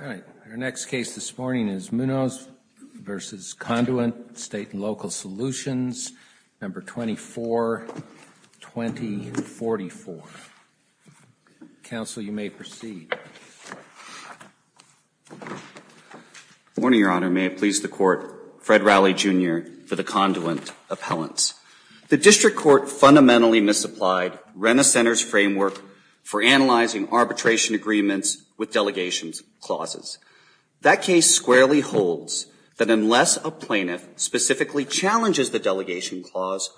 Our next case this morning is Munoz v. Conduent State & Local Solutions, No. 24-2044. Counsel, you may proceed. Good morning, Your Honor. May it please the Court, Fred Rowley, Jr. for the Conduent Appellants. The District Court fundamentally misapplied Renner Center's framework for analyzing arbitration agreements with delegation clauses. That case squarely holds that unless a plaintiff specifically challenges the delegation clause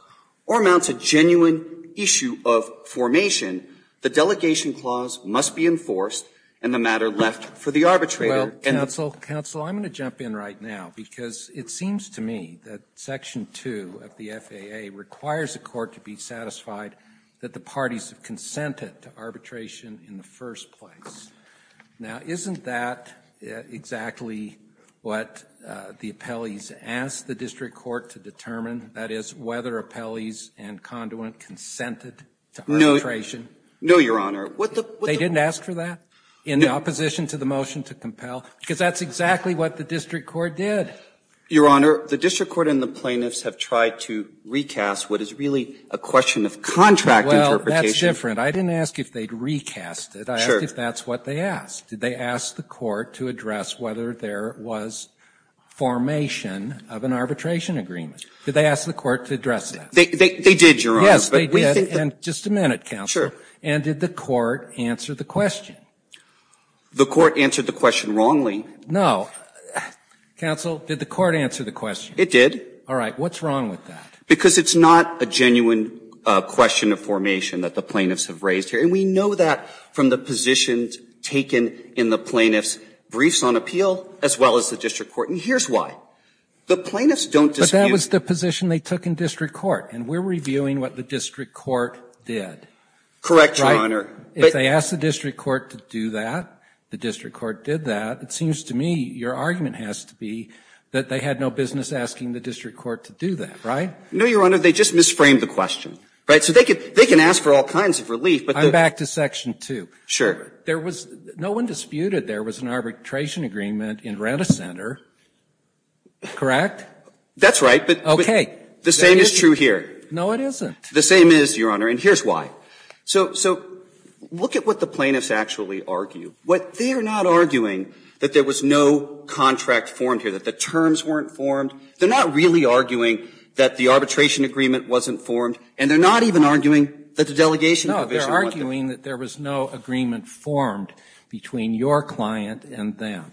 or mounts a genuine issue of formation, the delegation clause must be enforced and the matter left for the arbitrator. Well, Counsel, Counsel, I'm going to jump in right now, because it seems to me that Section 2 of the FAA requires the Court to be satisfied that the parties have consented to arbitration in the first place. Now, isn't that exactly what the appellees asked the District Court to determine, that is, whether appellees and conduit consented to arbitration? No, Your Honor. They didn't ask for that? In opposition to the motion to compel? Because that's exactly what the District Court did. Your Honor, the District Court and the plaintiffs have tried to recast what is really a question of contract interpretation. Well, that's different. I didn't ask if they'd recast it. Sure. I asked if that's what they asked. Did they ask the Court to address whether there was formation of an arbitration agreement? Did they ask the Court to address that? They did, Your Honor. Yes, they did. And just a minute, Counsel. Sure. And did the Court answer the question? The Court answered the question wrongly. No. Counsel, did the Court answer the question? It did. All right. What's wrong with that? Because it's not a genuine question of formation that the plaintiffs have raised here. And we know that from the positions taken in the plaintiffs' briefs on appeal as well as the District Court. And here's why. The plaintiffs don't dispute. But that was the position they took in District Court. And we're reviewing what the District Court did. Correct, Your Honor. Right. If they asked the District Court to do that, the District Court did that. It seems to me your argument has to be that they had no business asking the District Court to do that, right? No, Your Honor. They just misframed the question. Right? So they can ask for all kinds of relief, but the ---- I'm back to Section 2. Sure. There was no one disputed there was an arbitration agreement in Renta Center, correct? That's right, but ---- Okay. The same is true here. No, it isn't. The same is, Your Honor, and here's why. So look at what the plaintiffs actually argue. They are not arguing that there was no contract formed here, that the terms weren't formed. They are not really arguing that the arbitration agreement wasn't formed, and they are not even arguing that the delegation provision wasn't formed. No, they are arguing that there was no agreement formed between your client and them.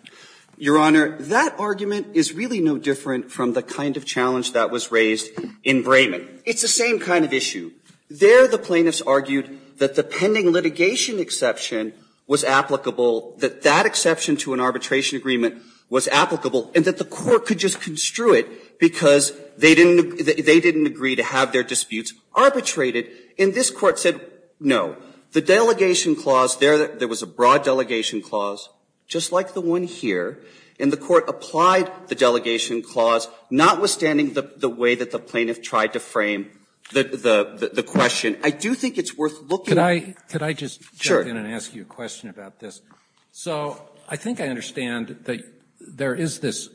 Your Honor, that argument is really no different from the kind of challenge that was raised in Brayman. It's the same kind of issue. There the plaintiffs argued that the pending litigation exception was applicable, that that exception to an arbitration agreement was applicable, and that the Court could just construe it because they didn't agree to have their disputes arbitrated. And this Court said no. The delegation clause there, there was a broad delegation clause, just like the one here, and the Court applied the delegation clause, notwithstanding the way that the Court framed the question. I do think it's worth looking at. Could I just jump in and ask you a question about this? Sure. So I think I understand that there is this,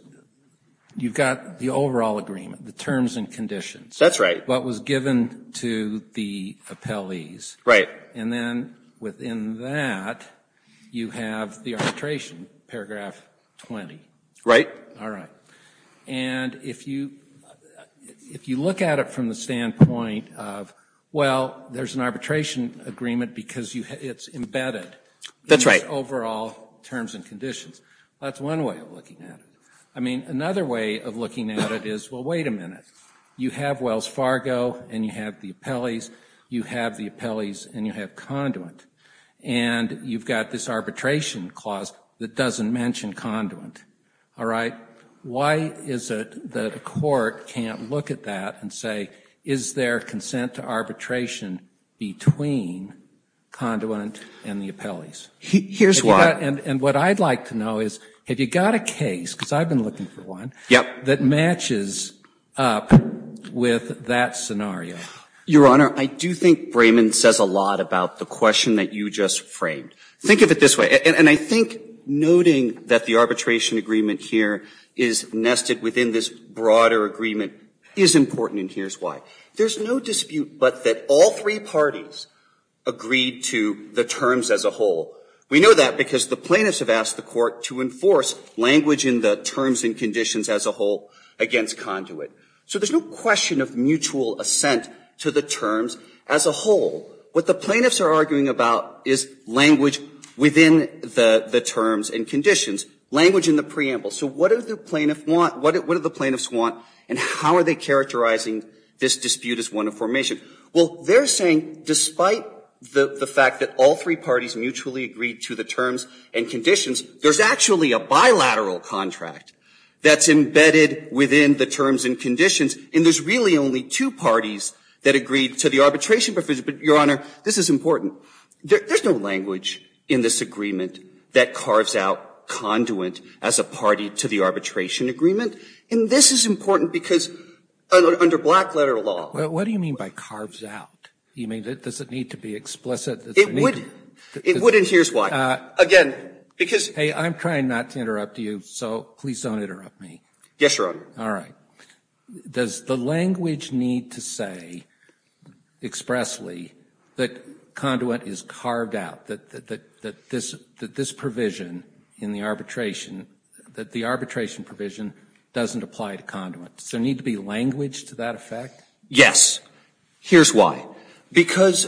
you've got the overall agreement, the terms and conditions. That's right. What was given to the appellees. Right. And then within that, you have the arbitration, paragraph 20. Right. All right. And if you look at it from the standpoint of, well, there's an arbitration agreement because it's embedded. That's right. Overall terms and conditions. That's one way of looking at it. I mean, another way of looking at it is, well, wait a minute. You have Wells Fargo, and you have the appellees. You have the appellees, and you have conduit. And you've got this arbitration clause that doesn't mention conduit. All right. Why is it that a court can't look at that and say, is there consent to arbitration between conduit and the appellees? Here's why. And what I'd like to know is, have you got a case, because I've been looking for one, that matches up with that scenario? Your Honor, I do think Brayman says a lot about the question that you just framed. Think of it this way. And I think noting that the arbitration agreement here is nested within this broader agreement is important, and here's why. There's no dispute but that all three parties agreed to the terms as a whole. We know that because the plaintiffs have asked the court to enforce language in the terms and conditions as a whole against conduit. So there's no question of mutual assent to the terms as a whole. What the plaintiffs are arguing about is language within the terms and conditions. Language in the preamble. So what do the plaintiffs want? And how are they characterizing this dispute as one of formation? Well, they're saying despite the fact that all three parties mutually agreed to the terms and conditions, there's actually a bilateral contract that's embedded within the terms and conditions, and there's really only two parties that agreed to the arbitration but, Your Honor, this is important. There's no language in this agreement that carves out conduit as a party to the arbitration agreement, and this is important because under black letter law. What do you mean by carves out? You mean does it need to be explicit? It would. It would, and here's why. Again, because hey, I'm trying not to interrupt you, so please don't interrupt me. Yes, Your Honor. All right. Does the language need to say expressly that conduit is carved out, that this provision in the arbitration, that the arbitration provision doesn't apply to conduit? Does there need to be language to that effect? Yes. Here's why. Because,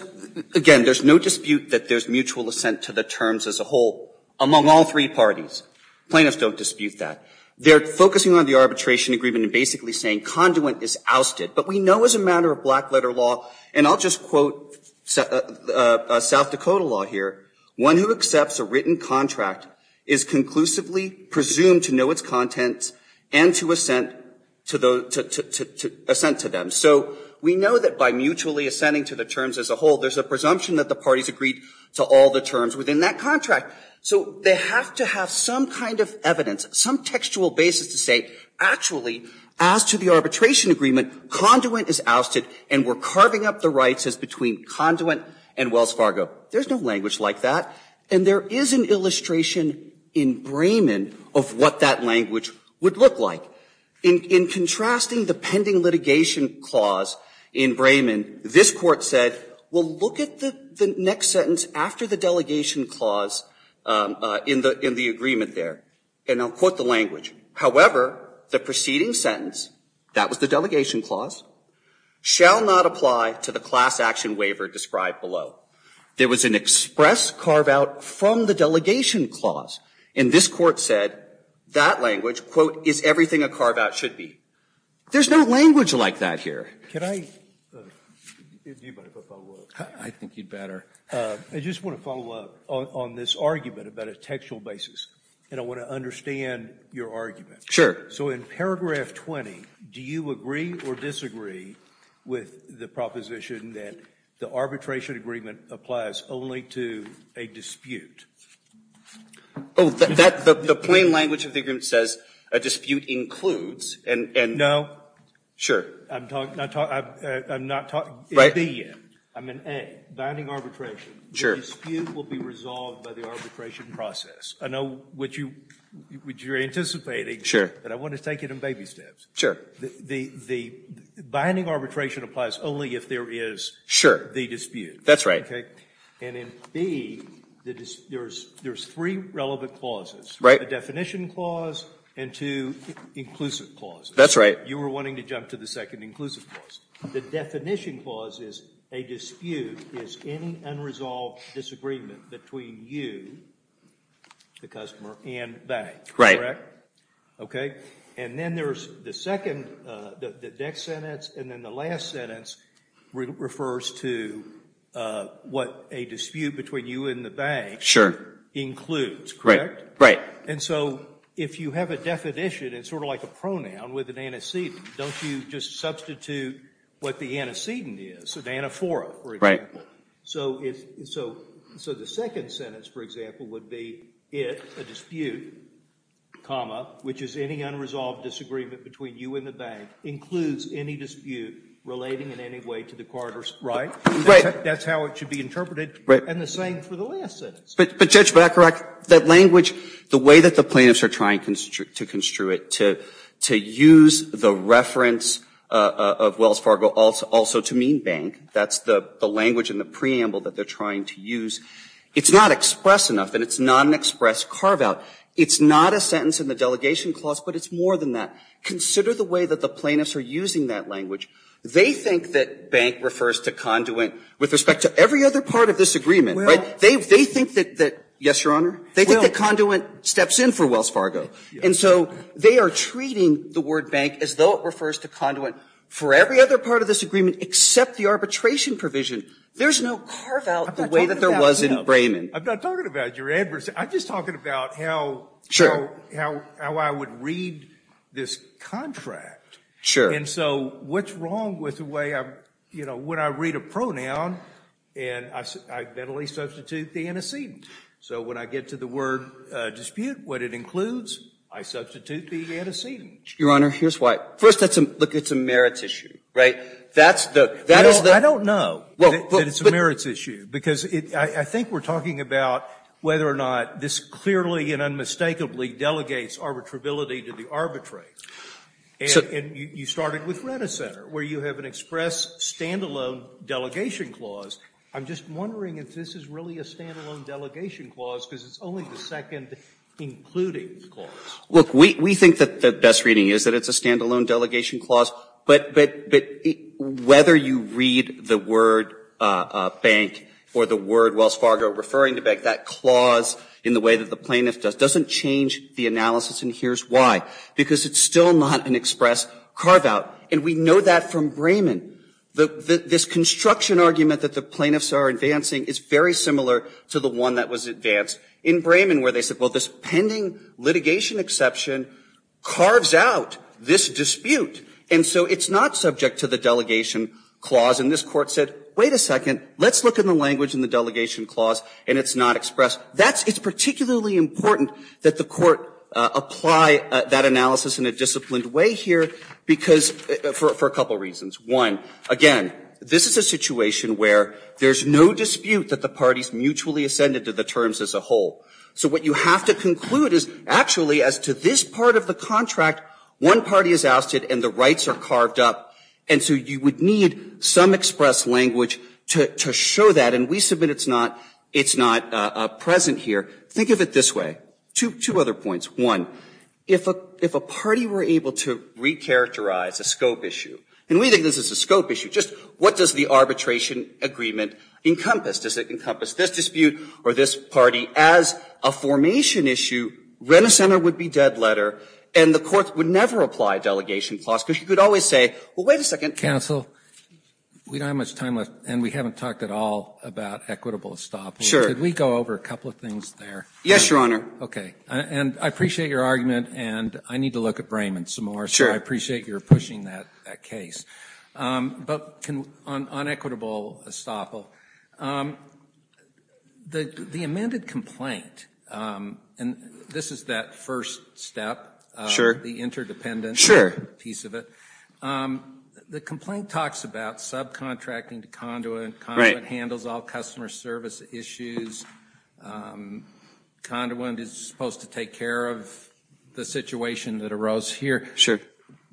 again, there's no dispute that there's mutual assent to the terms as a whole among all three parties. Plaintiffs don't dispute that. They're focusing on the arbitration agreement and basically saying conduit is ousted. But we know as a matter of black letter law, and I'll just quote South Dakota law here, one who accepts a written contract is conclusively presumed to know its contents and to assent to them. So we know that by mutually assenting to the terms as a whole, there's a presumption that the parties agreed to all the terms within that contract. So they have to have some kind of evidence, some textual basis to say actually as to the arbitration agreement, conduit is ousted and we're carving up the rights as between conduit and Wells Fargo. There's no language like that. And there is an illustration in Brayman of what that language would look like. In contrasting the pending litigation clause in Brayman, this Court said, well, look at the next sentence after the delegation clause in the agreement there. And I'll quote the language. However, the preceding sentence, that was the delegation clause, shall not apply to the class action waiver described below. There was an express carve-out from the delegation clause. And this Court said that language, quote, is everything a carve-out should be. There's no language like that here. Can I? Do you mind if I follow up? I think you'd better. I just want to follow up on this argument about a textual basis. And I want to understand your argument. So in paragraph 20, do you agree or disagree with the proposition that the arbitration agreement applies only to a dispute? Oh, the plain language of the agreement says a dispute includes. No. Sure. I'm not talking in B yet. I'm in A, binding arbitration. Sure. The dispute will be resolved by the arbitration process. I know what you're anticipating. Sure. But I want to take it in baby steps. Sure. The binding arbitration applies only if there is the dispute. That's right. And in B, there's three relevant clauses. Right. The definition clause and two inclusive clauses. That's right. You were wanting to jump to the second inclusive clause. The definition clause is a dispute is any unresolved disagreement between you, the customer, and bank. Right. Okay. And then there's the second, the next sentence, and then the last sentence refers to what a dispute between you and the bank includes. Correct? Right. And so if you have a definition, it's sort of like a pronoun with an antecedent. Don't you just substitute what the antecedent is, an anaphora, for example? So the second sentence, for example, would be it, a dispute, comma, which is any unresolved disagreement between you and the bank, includes any dispute relating in any way to the Carter right? Right. That's how it should be interpreted. Right. And the same for the last sentence. But, Judge, am I correct? That language, the way that the plaintiffs are trying to construe it, to use the reference of Wells Fargo also to mean bank, that's the language in the preamble that they're trying to use. It's not express enough, and it's not an express carve-out. It's not a sentence in the delegation clause, but it's more than that. Consider the way that the plaintiffs are using that language. They think that bank refers to conduit with respect to every other part of this agreement. Right. They think that, yes, Your Honor, they think that conduit steps in for Wells Fargo. And so they are treating the word bank as though it refers to conduit for every other part of this agreement except the arbitration provision. There's no carve-out the way that there was in Brayman. I'm not talking about your adversary. I'm just talking about how I would read this contract. Sure. And so what's wrong with the way I'm, you know, when I read a pronoun, and I mentally substitute the antecedent. So when I get to the word dispute, what it includes, I substitute the antecedent. Your Honor, here's why. First, that's a, look, it's a merits issue, right? That is the I don't know that it's a merits issue, because I think we're talking about whether or not this clearly and unmistakably delegates arbitrability to the arbitrate. So And you started with Renner Center, where you have an express stand-alone delegation clause. I'm just wondering if this is really a stand-alone delegation clause, because it's only the second including clause. Look, we think that the best reading is that it's a stand-alone delegation clause, but whether you read the word bank or the word Wells Fargo referring to bank, that clause in the way that the plaintiff does doesn't change the analysis and here's why. Because it's still not an express carve-out. And we know that from Brayman. This construction argument that the plaintiffs are advancing is very similar to the one that was advanced in Brayman, where they said, well, this pending litigation exception carves out this dispute. And so it's not subject to the delegation clause. And this Court said, wait a second. Let's look at the language in the delegation clause, and it's not express. It's particularly important that the Court apply that analysis in a disciplined way here, because, for a couple of reasons. One, again, this is a situation where there's no dispute that the parties mutually ascended to the terms as a whole. So what you have to conclude is actually as to this part of the contract, one party is ousted and the rights are carved up, and so you would need some express language to show that. And we submit it's not present here. Think of it this way. Two other points. One, if a party were able to recharacterize a scope issue, and we think this is a scope issue, just what does the arbitration agreement encompass? Does it encompass this dispute or this party? As a formation issue, Renner Center would be dead letter, and the Court would never apply delegation clause, because you could always say, well, wait a second. Here. We don't have much time left, and we haven't talked at all about equitable estoppel. Can we go over a couple of things there? Yes, Your Honor. Okay. And I appreciate your argument, and I need to look at Brayman some more. Sure. So I appreciate your pushing that case. But on equitable estoppel, the amended complaint, and this is that first step, the interdependence piece of it, the complaint talks about subcontracting to Conduit. Conduit handles all customer service issues. Conduit is supposed to take care of the situation that arose here.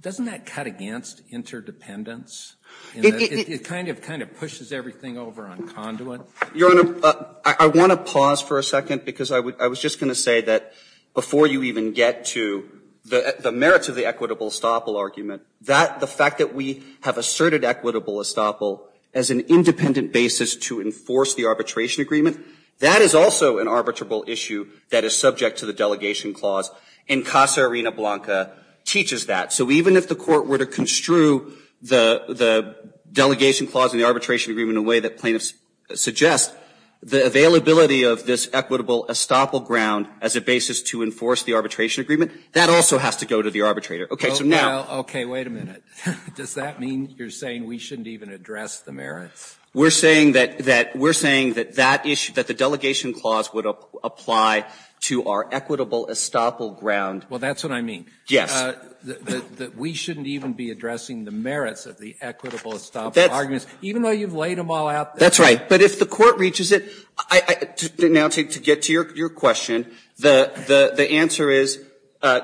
Doesn't that cut against interdependence? It kind of pushes everything over on Conduit. Your Honor, I want to pause for a second because I was just going to say that before you even get to the merits of the equitable estoppel argument, the fact that we have asserted equitable estoppel as an independent basis to enforce the arbitration agreement, that is also an arbitrable issue that is subject to the delegation clause, and Casa Arena Blanca teaches that. So even if the Court were to construe the delegation clause and the arbitration agreement in a way that plaintiffs suggest, the availability of this equitable estoppel ground as a basis to enforce the arbitration agreement, that also has to go to the arbitrator. Okay. So now. Okay. Wait a minute. Does that mean you're saying we shouldn't even address the merits? We're saying that that issue, that the delegation clause would apply to our equitable estoppel ground. Well, that's what I mean. Yes. That we shouldn't even be addressing the merits of the equitable estoppel arguments, even though you've laid them all out there. That's right. But if the Court reaches it, now to get to your question, the answer is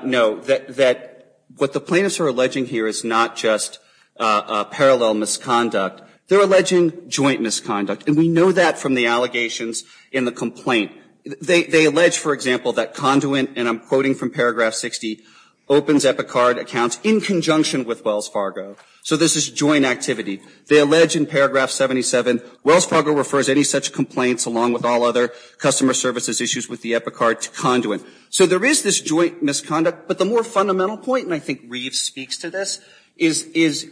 no. That what the plaintiffs are alleging here is not just parallel misconduct. They're alleging joint misconduct. And we know that from the allegations in the complaint. They allege, for example, that Conduent, and I'm quoting from paragraph 60, opens Epicard accounts in conjunction with Wells Fargo. So this is joint activity. They allege in paragraph 77, Wells Fargo refers any such complaints along with all other customer services issues with the Epicard to Conduent. So there is this joint misconduct. But the more fundamental point, and I think Reeves speaks to this, is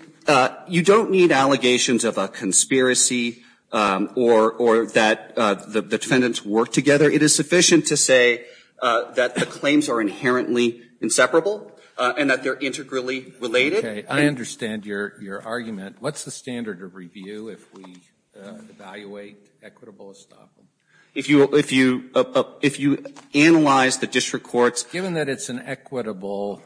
you don't need allegations of a conspiracy or that the defendants work together. It is sufficient to say that the claims are inherently inseparable and that they're integrally related. Okay. I understand your argument. What's the standard of review if we evaluate equitable estoppel? If you analyze the district courts ---- Given that it's an equitable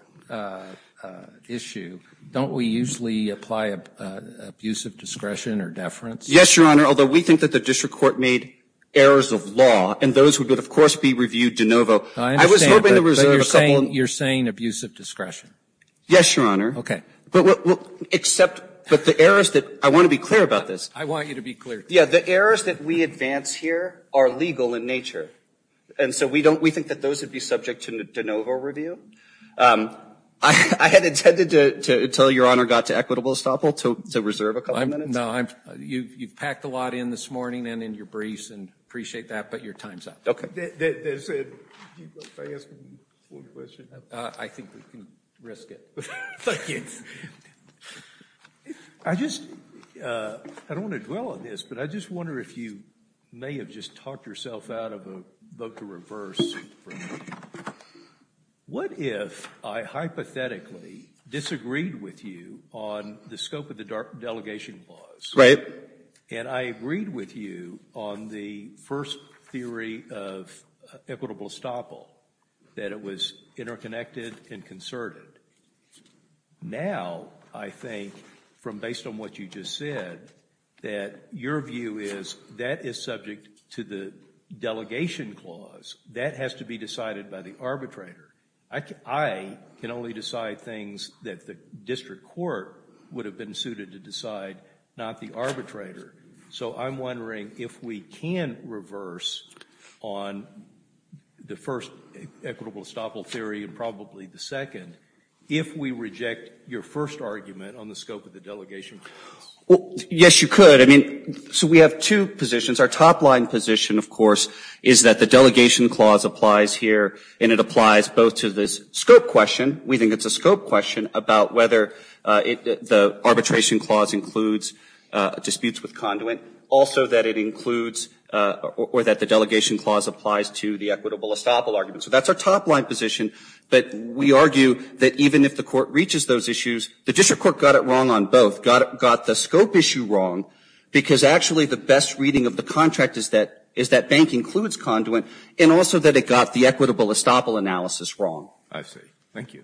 issue, don't we usually apply abusive discretion or deference? Yes, Your Honor, although we think that the district court made errors of law, and those would, of course, be reviewed de novo. I was hoping to reserve a couple of ---- You're saying abusive discretion. Yes, Your Honor. Okay. But the errors that ---- I want to be clear about this. I want you to be clear. Yes, the errors that we advance here are legal in nature. And so we think that those would be subject to de novo review. I had intended to tell Your Honor got to equitable estoppel to reserve a couple of minutes. No, you've packed a lot in this morning and in your briefs and appreciate that, but your time is up. Okay. I think we can risk it. I just ---- I don't want to dwell on this, but I just wonder if you may have just talked yourself out of a vote to reverse. What if I hypothetically disagreed with you on the scope of the delegation clause? Right. And I agreed with you on the first theory of equitable estoppel, that it was interconnected and concerted. Now, I think, from based on what you just said, that your view is that is subject to the delegation clause. That has to be decided by the arbitrator. I can only decide things that the district court would have been suited to decide, not the arbitrator. So I'm wondering if we can reverse on the first equitable estoppel theory and probably the second, if we reject your first argument on the scope of the delegation clause. Yes, you could. I mean, so we have two positions. Our top line position, of course, is that the delegation clause applies here and it applies both to this scope question, we think it's a scope question, about whether the arbitration clause includes disputes with conduit, also that it includes or that the delegation clause applies to the equitable estoppel argument. So that's our top line position, but we argue that even if the court reaches those issues, the district court got it wrong on both, got the scope issue wrong because actually the best reading of the contract is that bank includes conduit and also that it got the equitable estoppel analysis wrong. I see. Thank you.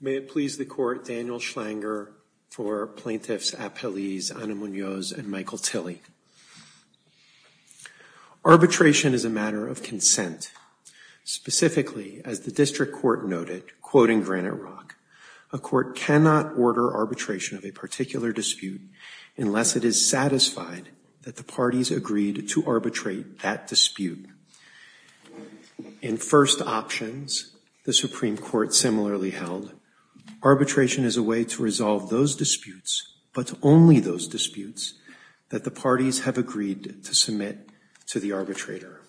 May it please the court, Daniel Schlanger for plaintiffs Apeliz, Anamunoz, and Michael Tilley. Arbitration is a matter of consent. Specifically, as the district court noted, quoting Granite Rock, a court cannot order arbitration of a particular dispute unless it is satisfied that the parties agreed to arbitrate that dispute. In first options, the Supreme Court similarly held, arbitration is a way to resolve those disputes, but only those disputes that the parties have agreed to submit to the arbitrator.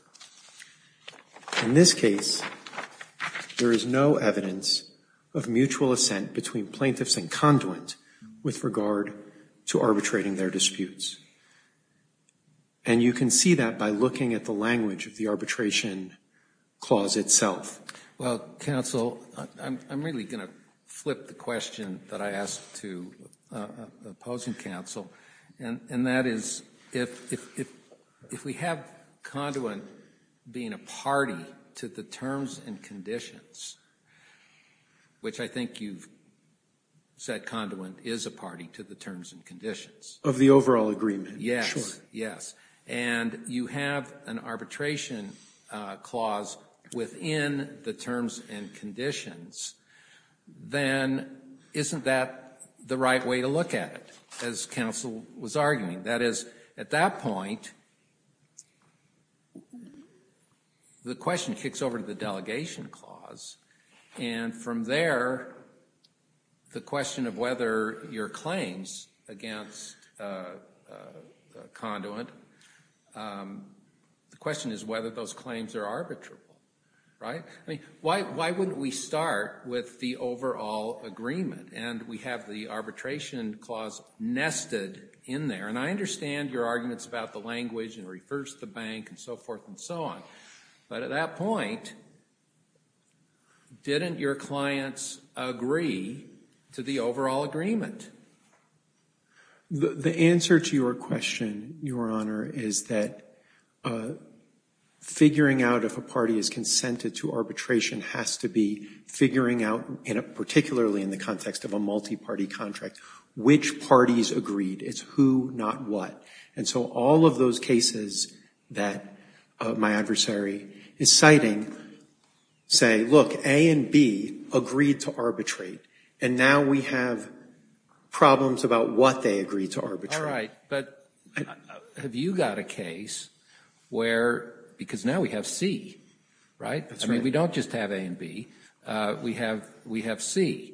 In this case, there is no evidence of mutual assent between plaintiffs and you can see that by looking at the language of the arbitration clause itself. Well, counsel, I'm really going to flip the question that I asked to opposing counsel and that is if we have conduit being a party to the terms and conditions, which I think you've said conduit is a party to the terms and conditions. Of the overall agreement. Yes, yes, and you have an arbitration clause within the terms and conditions, then isn't that the right way to look at it, as counsel was arguing? That is, at that point, the question kicks over to the delegation clause and from there, the question of whether your claims against the parties in the case of conduit, the question is whether those claims are arbitrable, right? I mean, why wouldn't we start with the overall agreement and we have the arbitration clause nested in there and I understand your arguments about the language and reverse the bank and so forth and so on, but at that point, didn't your clients agree to the overall agreement? The answer to your question, Your Honor, is that figuring out if a party is consented to arbitration has to be figuring out, particularly in the context of a multi-party contract, which parties agreed. It's who, not what. And so all of those cases that my adversary is citing say, look, A and B agreed to arbitration, but they have problems about what they agreed to arbitrate. All right, but have you got a case where, because now we have C, right? That's right. I mean, we don't just have A and B, we have C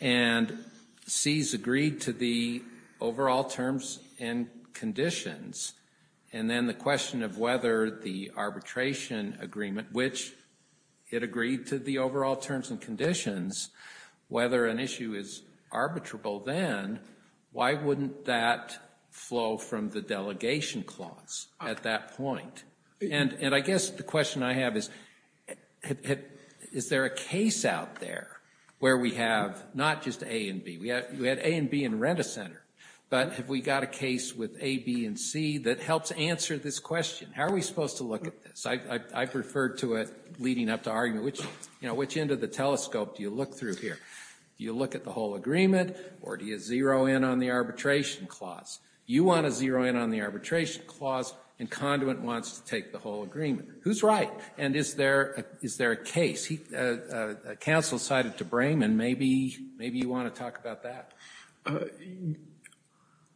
and C has agreed to the overall terms and conditions and then the question of whether the arbitration agreement, which it agreed to the overall terms and conditions, whether an issue is arbitrable then, why wouldn't that flow from the delegation clause at that point? And I guess the question I have is, is there a case out there where we have not just A and B, we had A and B in Rent-A-Center, but have we got a case with A, B and C that helps answer this question? How are we going to look at this? I've referred to it leading up to argument, which end of the telescope do you look through here? Do you look at the whole agreement or do you zero in on the arbitration clause? You want to zero in on the arbitration clause and conduit wants to take the whole agreement. Who's right? And is there a case? Counsel cited to Brayman, maybe you want to talk about that.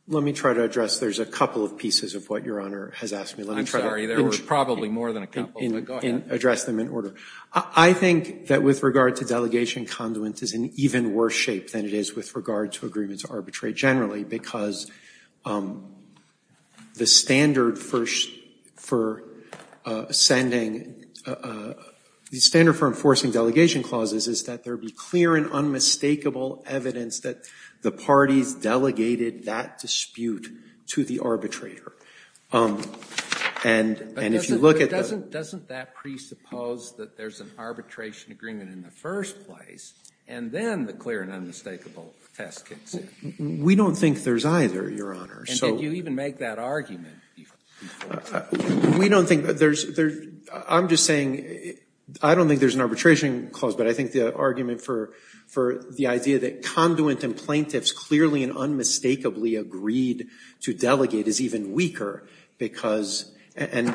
Let me try to address, there's a couple of pieces of what Your Honor has asked me. I'm sorry, there were probably more than a couple, but go ahead. Address them in order. I think that with regard to delegation, conduit is in even worse shape than it is with regard to agreements of arbitration generally because the standard for sending, the standard for enforcing delegation clauses is that there be clear and unmistakable evidence that the parties in the delegation parties delegated that dispute to the arbitrator. And if you look at the Doesn't that presuppose that there's an arbitration agreement in the first place and then the clear and unmistakable test kicks in? We don't think there's either, Your Honor. And did you even make that argument before? We don't think there's, I'm just saying, I don't think there's an arbitration clause, but I think the argument for the idea that conduit and plaintiffs clearly and unmistakably agreed to delegate is even weaker because, and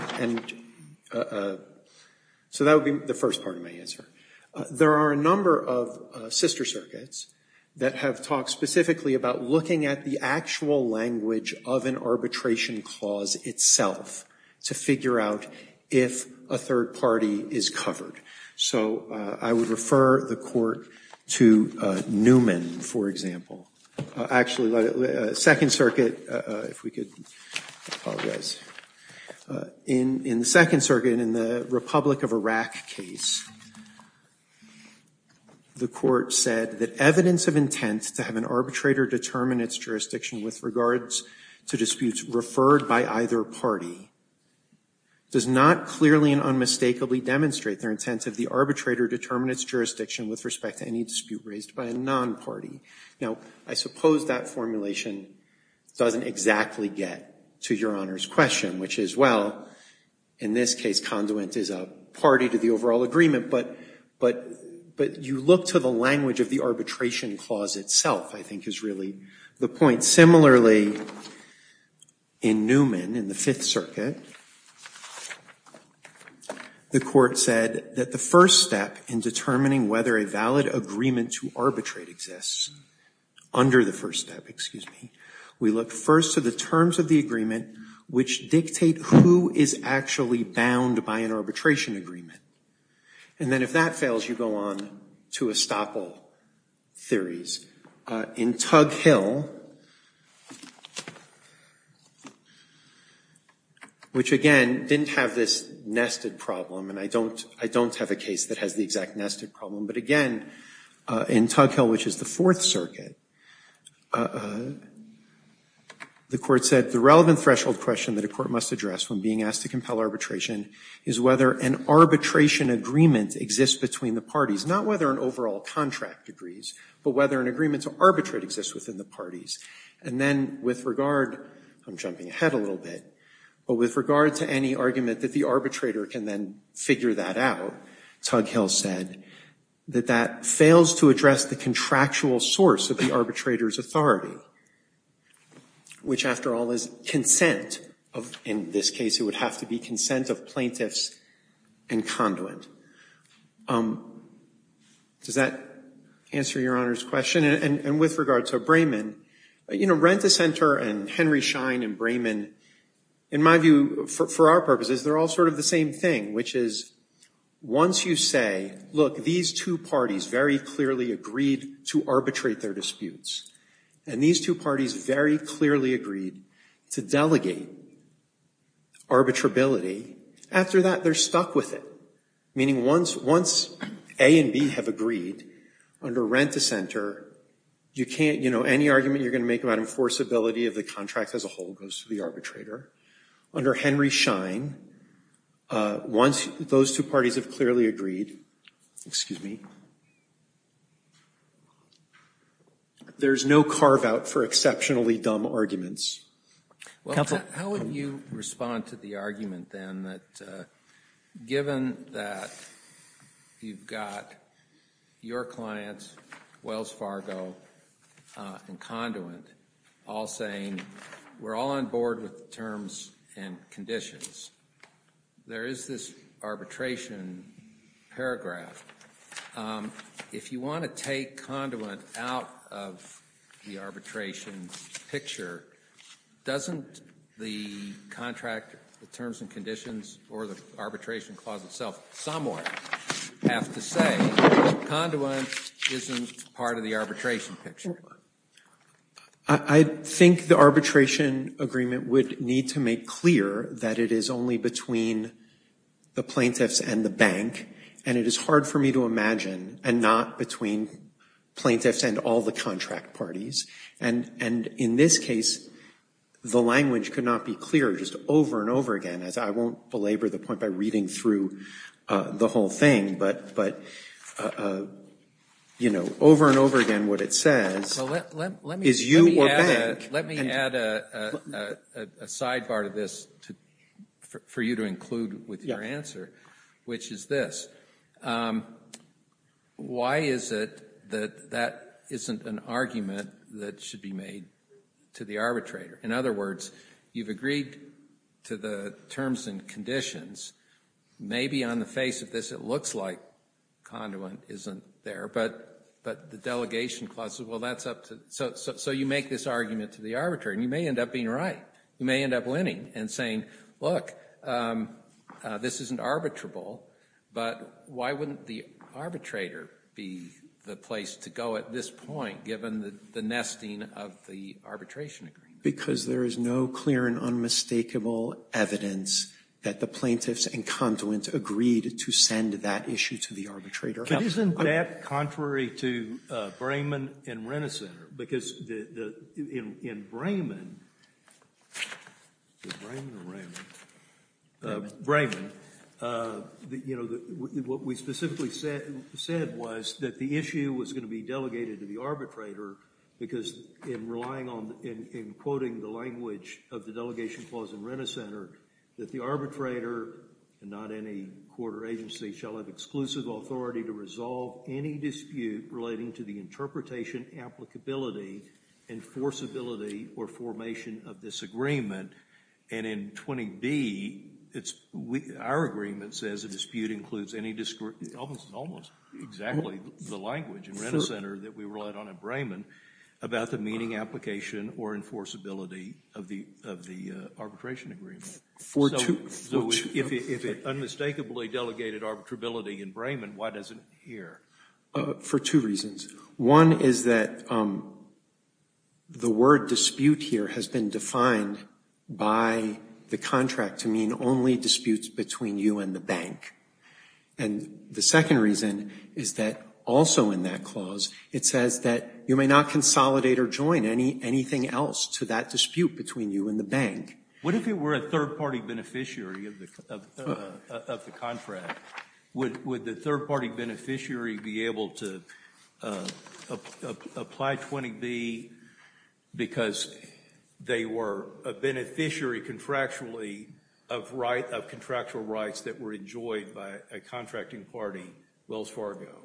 so that would be the first part of my answer. There are a number of sister circuits that have talked specifically about looking at the actual language of an arbitration clause itself to figure out if a third I would refer the court to Newman, for example. Actually, Second Circuit, if we could apologize. In the Second Circuit, in the Republic of Iraq case, the court said that evidence of intent to have an arbitrator determine its jurisdiction with regards to disputes referred by either party does not clearly and unmistakably demonstrate their intent of the arbitrator determine its jurisdiction with respect to any dispute raised by a non-party. Now, I suppose that formulation doesn't exactly get to Your Honor's question, which is, well, in this case, conduit is a party to the overall agreement, but you look to the language of the arbitration clause itself, I think, is really the point. Similarly, in Newman, in the Fifth Circuit, the court said that the first step in determining whether a valid agreement to arbitrate exists, under the first step, excuse me, we look first to the terms of the agreement which dictate who is actually bound by an arbitration agreement. And then if that fails, you go on to estoppel theories. In Tug Hill, which again didn't have this nested problem, and I don't have a case that has the exact nested problem, but again, in Tug Hill, which is the Fourth Circuit, the court said the relevant threshold question that a court must address when being asked to compel arbitration is whether an arbitration agreement exists between the parties, not whether an overall contract agrees, but whether an agreement to arbitrate exists within the parties. And then with regard, I'm jumping ahead a little bit, but with regard to any argument that the arbitrator can then figure that out, Tug Hill said that that fails to address the contractual source of the arbitrator's authority, which, after all, is consent. In this case, it would have to be consent of plaintiffs and conduit. Does that answer Your Honor's question? And with regard to Brayman, you know, Rent-A-Center and Henry Schein and Brayman, in my view, for our purposes, they're all sort of the same thing, which is, once you say, look, these two parties very clearly agreed to arbitrate their disputes, and these two parties very clearly agreed to delegate arbitrability, after that, they're stuck with it, meaning once A and B have agreed, under Rent-A-Center, you can't, you know, any argument you're going to make about enforceability of the contract as a whole goes to the arbitrator. Under Henry Schein, once those two parties have clearly agreed, excuse me, there's no carve-out for exceptionally dumb arguments. Well, how would you respond to the argument, then, that given that you've got your clients, Wells Fargo and Conduit, all saying, we're all on board with the terms and conditions, there is this arbitration paragraph. If you want to take Conduit out of the arbitration picture, doesn't the contract, the terms and conditions, or the arbitration clause itself somewhat have to say Conduit isn't part of the arbitration picture? I think the arbitration agreement would need to make clear that it is only between the plaintiffs and the bank, and it is hard for me to imagine, and not between plaintiffs and all the contract parties. And in this case, the language could not be clear just over and over again, as I won't belabor the point by reading through the whole thing, but, you know, over and over again what it says is you or bank. Let me add a sidebar to this for you to include with your answer, which is this. Why is it that that isn't an argument that should be made to the arbitrator? In other words, you've agreed to the terms and conditions. Maybe on the face of this, it looks like Conduit isn't there, but the delegation clause says, well, that's up to, so you make this argument to the arbitrator, and you may end up being right. You may end up winning and saying, look, this isn't arbitrable, but why wouldn't the arbitrator be the place to go at this point, given the nesting of the arbitration agreement? Because there is no clear and unmistakable evidence that the plaintiffs and Conduit agreed to send that issue to the arbitrator. But isn't that contrary to Brayman and Renner Center? Because in Brayman, is it Brayman or Rayman? Brayman. You know, what we specifically said was that the issue was going to be delegated to the arbitrator because in relying on, in quoting the language of the delegation clause in Renner Center, that the arbitrator, and not any court or agency, shall have exclusive authority to resolve any dispute relating to the interpretation, applicability, enforceability, or formation of this agreement. And in 20B, our agreement says a dispute includes any, almost exactly the language in Renner Center that we relied on in Brayman about the binding application or enforceability of the arbitration agreement. So if it unmistakably delegated arbitrability in Brayman, why does it here? For two reasons. One is that the word dispute here has been defined by the contract to mean only disputes between you and the bank. And the second reason is that also in that clause, it says that you may not consolidate or join anything else to that dispute between you and the bank. What if it were a third-party beneficiary of the contract? Would the third-party beneficiary be able to apply 20B because they were a beneficiary contractually of contractual rights that were enjoyed by a contracting party, Wells Fargo?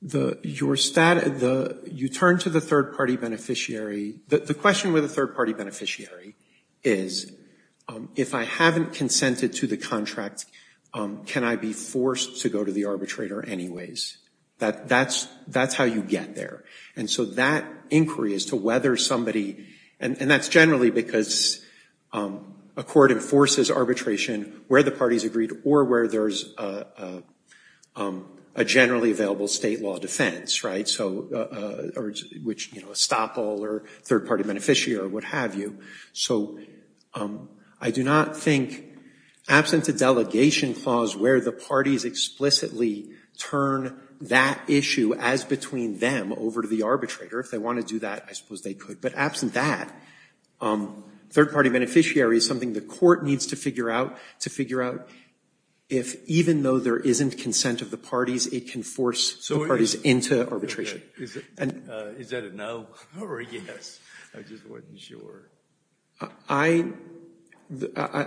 You turn to the third-party beneficiary. The question with a third-party beneficiary is, if I haven't consented to the contract, can I be forced to go to the arbitrator anyways? That's how you get there. And so that inquiry as to whether somebody, and that's generally because a court enforces arbitration where the parties agreed or where there's a generally available state law defense, right? Which, you know, estoppel or third-party beneficiary or what have you. So I do not think, absent a delegation clause where the parties explicitly turn that issue as between them over to the arbitrator, if they want to do that, I suppose they could. But absent that, third-party beneficiary is something the court needs to figure out if even though there isn't consent of the parties, it can force the parties into arbitration. Is that a no or a yes? I just wasn't sure. I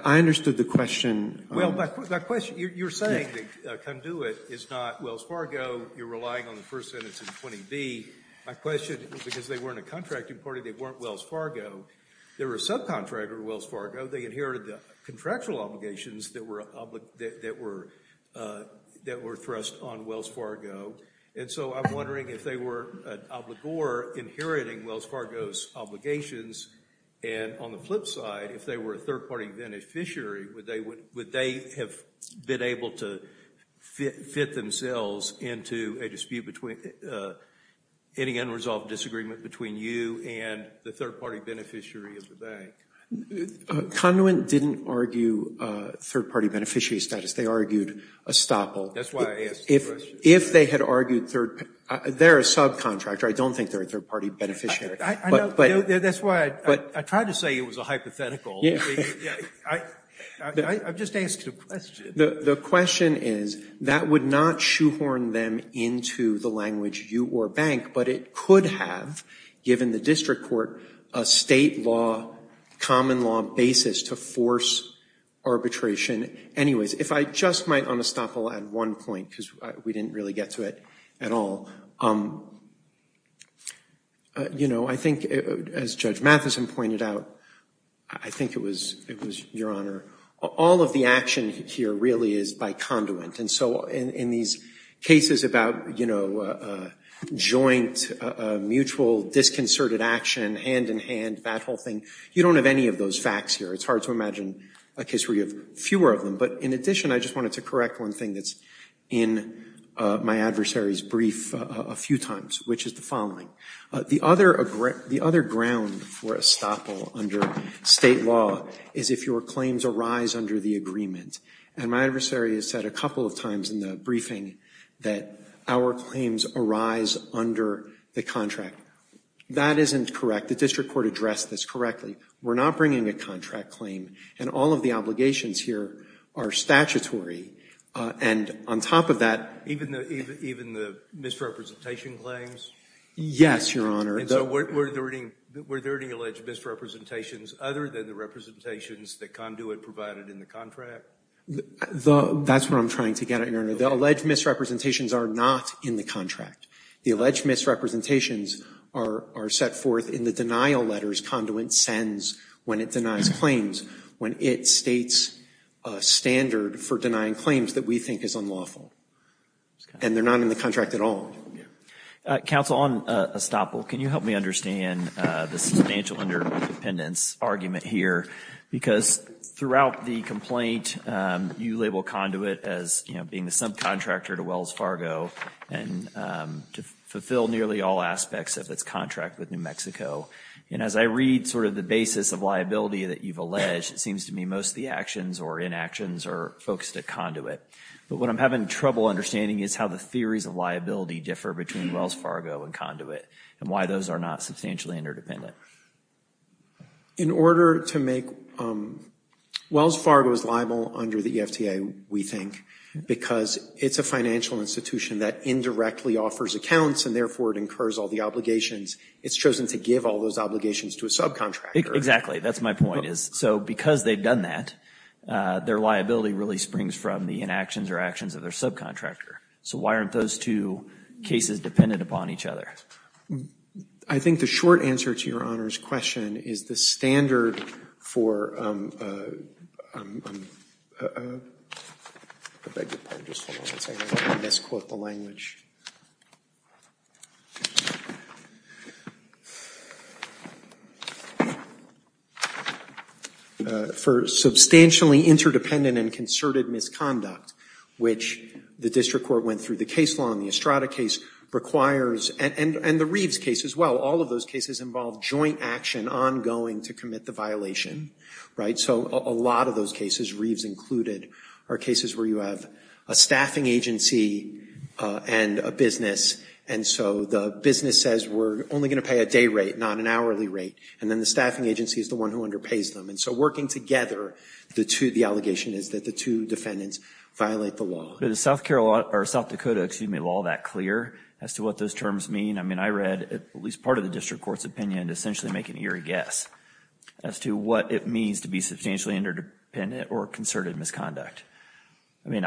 understood the question. Well, my question, you're saying that come do it is not Wells Fargo, you're relying on the first sentence of 20B. My question, because they weren't a contracting party, they weren't Wells Fargo, they were a subcontractor of Wells Fargo, they inherited the contractual obligations that were thrust on Wells Fargo. And so I'm wondering if they were an obligor inheriting Wells Fargo's obligations and on the flip side, if they were a third-party beneficiary, would they have been able to fit themselves into a dispute between, any unresolved disagreement between you and the third-party beneficiary of the bank? Conduent didn't argue third-party beneficiary status. They argued estoppel. That's why I asked the question. If they had argued third, they're a subcontractor. I don't think they're a third-party beneficiary. That's why I tried to say it was a hypothetical. I've just asked a question. The question is, that would not shoehorn them into the language you or bank, but it could have, given the district court, a state law, common law basis to force arbitration. Anyways, if I just might, on estoppel, add one point, because we didn't really get to it at all. You know, I think, as Judge Matheson pointed out, I think it was your honor, all of the action here really is by conduit. And so in these cases about, you know, joint, mutual, disconcerted action, hand-in-hand, that whole thing, you don't have any of those facts here. It's hard to imagine a case where you have fewer of them. But in addition, I just wanted to correct one thing that's in my adversary's brief a few times, which is the following. The other ground for estoppel under state law is if your claims arise under the agreement. And my adversary has said a couple of times in the briefing that our claims arise under the contract. That isn't correct. The district court addressed this correctly. We're not bringing a contract claim, and all of the obligations here are statutory. And on top of that, even the misrepresentation claims? Yes, Your Honor. And so were there any alleged misrepresentations other than the representations that conduit provided in the contract? That's what I'm trying to get at, Your Honor. The alleged misrepresentations are not in the contract. The alleged misrepresentations are set forth in the denial letters conduit sends when it denies claims, when it states a standard for denying claims that we think is unlawful. And they're not in the contract at all. Counsel, on estoppel, can you help me understand the substantial interdependence argument here? Because throughout the complaint, you label conduit as being the subcontractor to Wells Fargo and to fulfill nearly all aspects of its contract with New Mexico. And as I read sort of the basis of liability that you've alleged, it seems to me most of the actions or inactions are focused at conduit. But what I'm having trouble understanding is how the theories of liability differ between Wells Fargo and conduit and why those are not substantially interdependent. In order to make – Wells Fargo is liable under the EFTA, we think, because it's a financial institution that indirectly offers accounts and therefore it incurs all the obligations. It's chosen to give all those obligations to a subcontractor. Exactly. That's my point. So because they've done that, their liability really springs from the inactions or actions of their subcontractor. So why aren't those two cases dependent upon each other? I think the short answer to Your Honor's question is the standard for – for substantially interdependent and concerted misconduct, which the district court went through the case law in the Estrada case, requires – and the Reeves case as well. All of those cases involve joint action ongoing to commit the violation, right? So a lot of those cases, Reeves included, are cases where you have a staffing agency and a business. And so the business says we're only going to pay a day rate, not an hourly rate. And then the staffing agency is the one who underpays them. And so working together, the two – the allegation is that the two defendants violate the law. Is South Dakota law that clear as to what those terms mean? I mean, I read at least part of the district court's opinion to essentially make an eerie guess as to what it means to be substantially interdependent or concerted misconduct. I mean,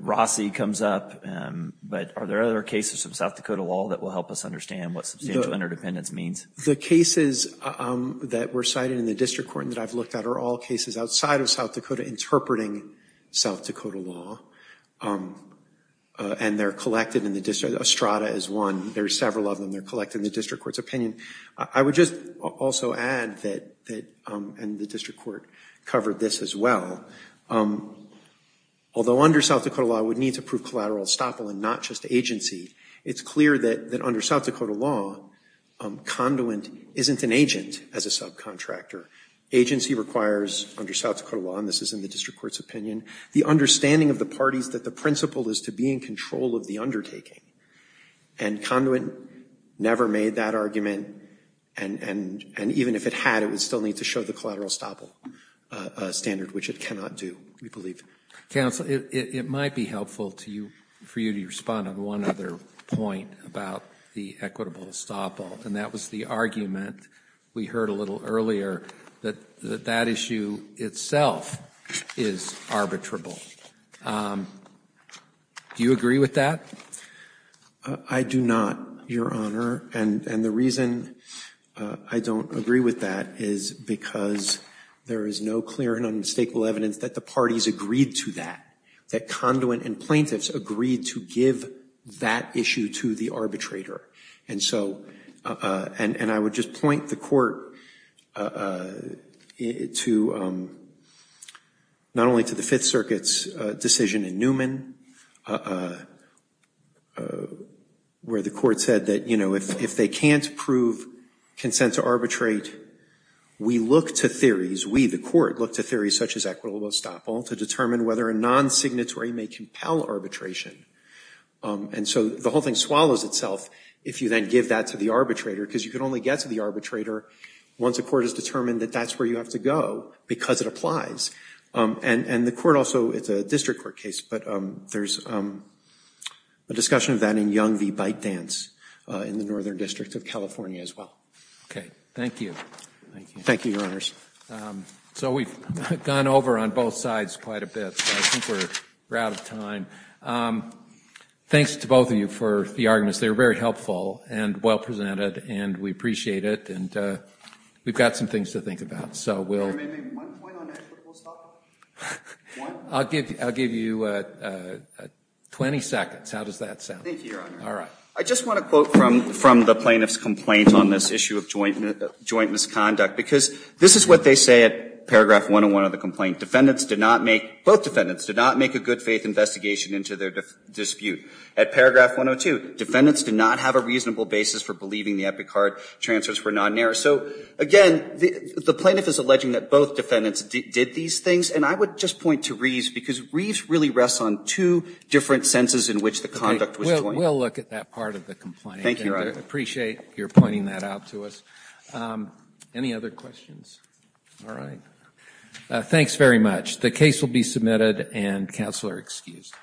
Rossi comes up, but are there other cases of South Dakota law that will help us understand what substantial interdependence means? The cases that were cited in the district court that I've looked at are all cases outside of South Dakota interpreting South Dakota law. And they're collected in the district – Estrada is one. There are several of them. They're collected in the district court's opinion. I would just also add that – and the district court covered this as well. Although under South Dakota law, we need to prove collateral estoppel and not just agency, it's clear that under South Dakota law, conduit isn't an agent as a subcontractor. Agency requires under South Dakota law, and this is in the district court's opinion, the understanding of the parties that the principle is to be in control of the undertaking. And conduit never made that argument. And even if it had, it would still need to show the collateral estoppel standard, which it cannot do, we believe. Counsel, it might be helpful for you to respond on one other point about the equitable estoppel, and that was the argument we heard a little earlier that that issue itself is arbitrable. Do you agree with that? I do not, Your Honor. And the reason I don't agree with that is because there is no clear and unmistakable evidence that the parties agreed to that, that conduit and plaintiffs agreed to give that issue to the arbitrator. And so – and I would just point the court to – not only to the Fifth Circuit's decision in Newman, where the court said that, you know, if they can't prove consent to arbitrate, we look to theories – we, the court, look to theories such as equitable estoppel to determine whether a non-signatory may compel arbitration. And so the whole thing swallows itself if you then give that to the arbitrator, because you can only get to the arbitrator once a court has determined that that's where you have to go, because it applies. And the court also – it's a district court case, but there's a discussion of that in Young v. Byte Dance in the Northern District of California as well. Okay. Thank you. Thank you, Your Honors. So we've gone over on both sides quite a bit, so I think we're out of time. Thanks to both of you for the arguments. They were very helpful and well presented, and we appreciate it. And we've got some things to think about, so we'll – May I make one point on equitable estoppel? One? I'll give you 20 seconds. How does that sound? Thank you, Your Honor. All right. I just want to quote from the plaintiff's complaint on this issue of joint misconduct. Because this is what they say at paragraph 101 of the complaint. Defendants did not make – both defendants did not make a good-faith investigation into their dispute. At paragraph 102, defendants did not have a reasonable basis for believing the Epicard transfers were non-error. So, again, the plaintiff is alleging that both defendants did these things. And I would just point to Reeves, because Reeves really rests on two different senses in which the conduct was joint. We'll look at that part of the complaint. Thank you, Your Honor. I appreciate your pointing that out to us. Any other questions? All right. Thanks very much. The case will be submitted, and counsel are excused.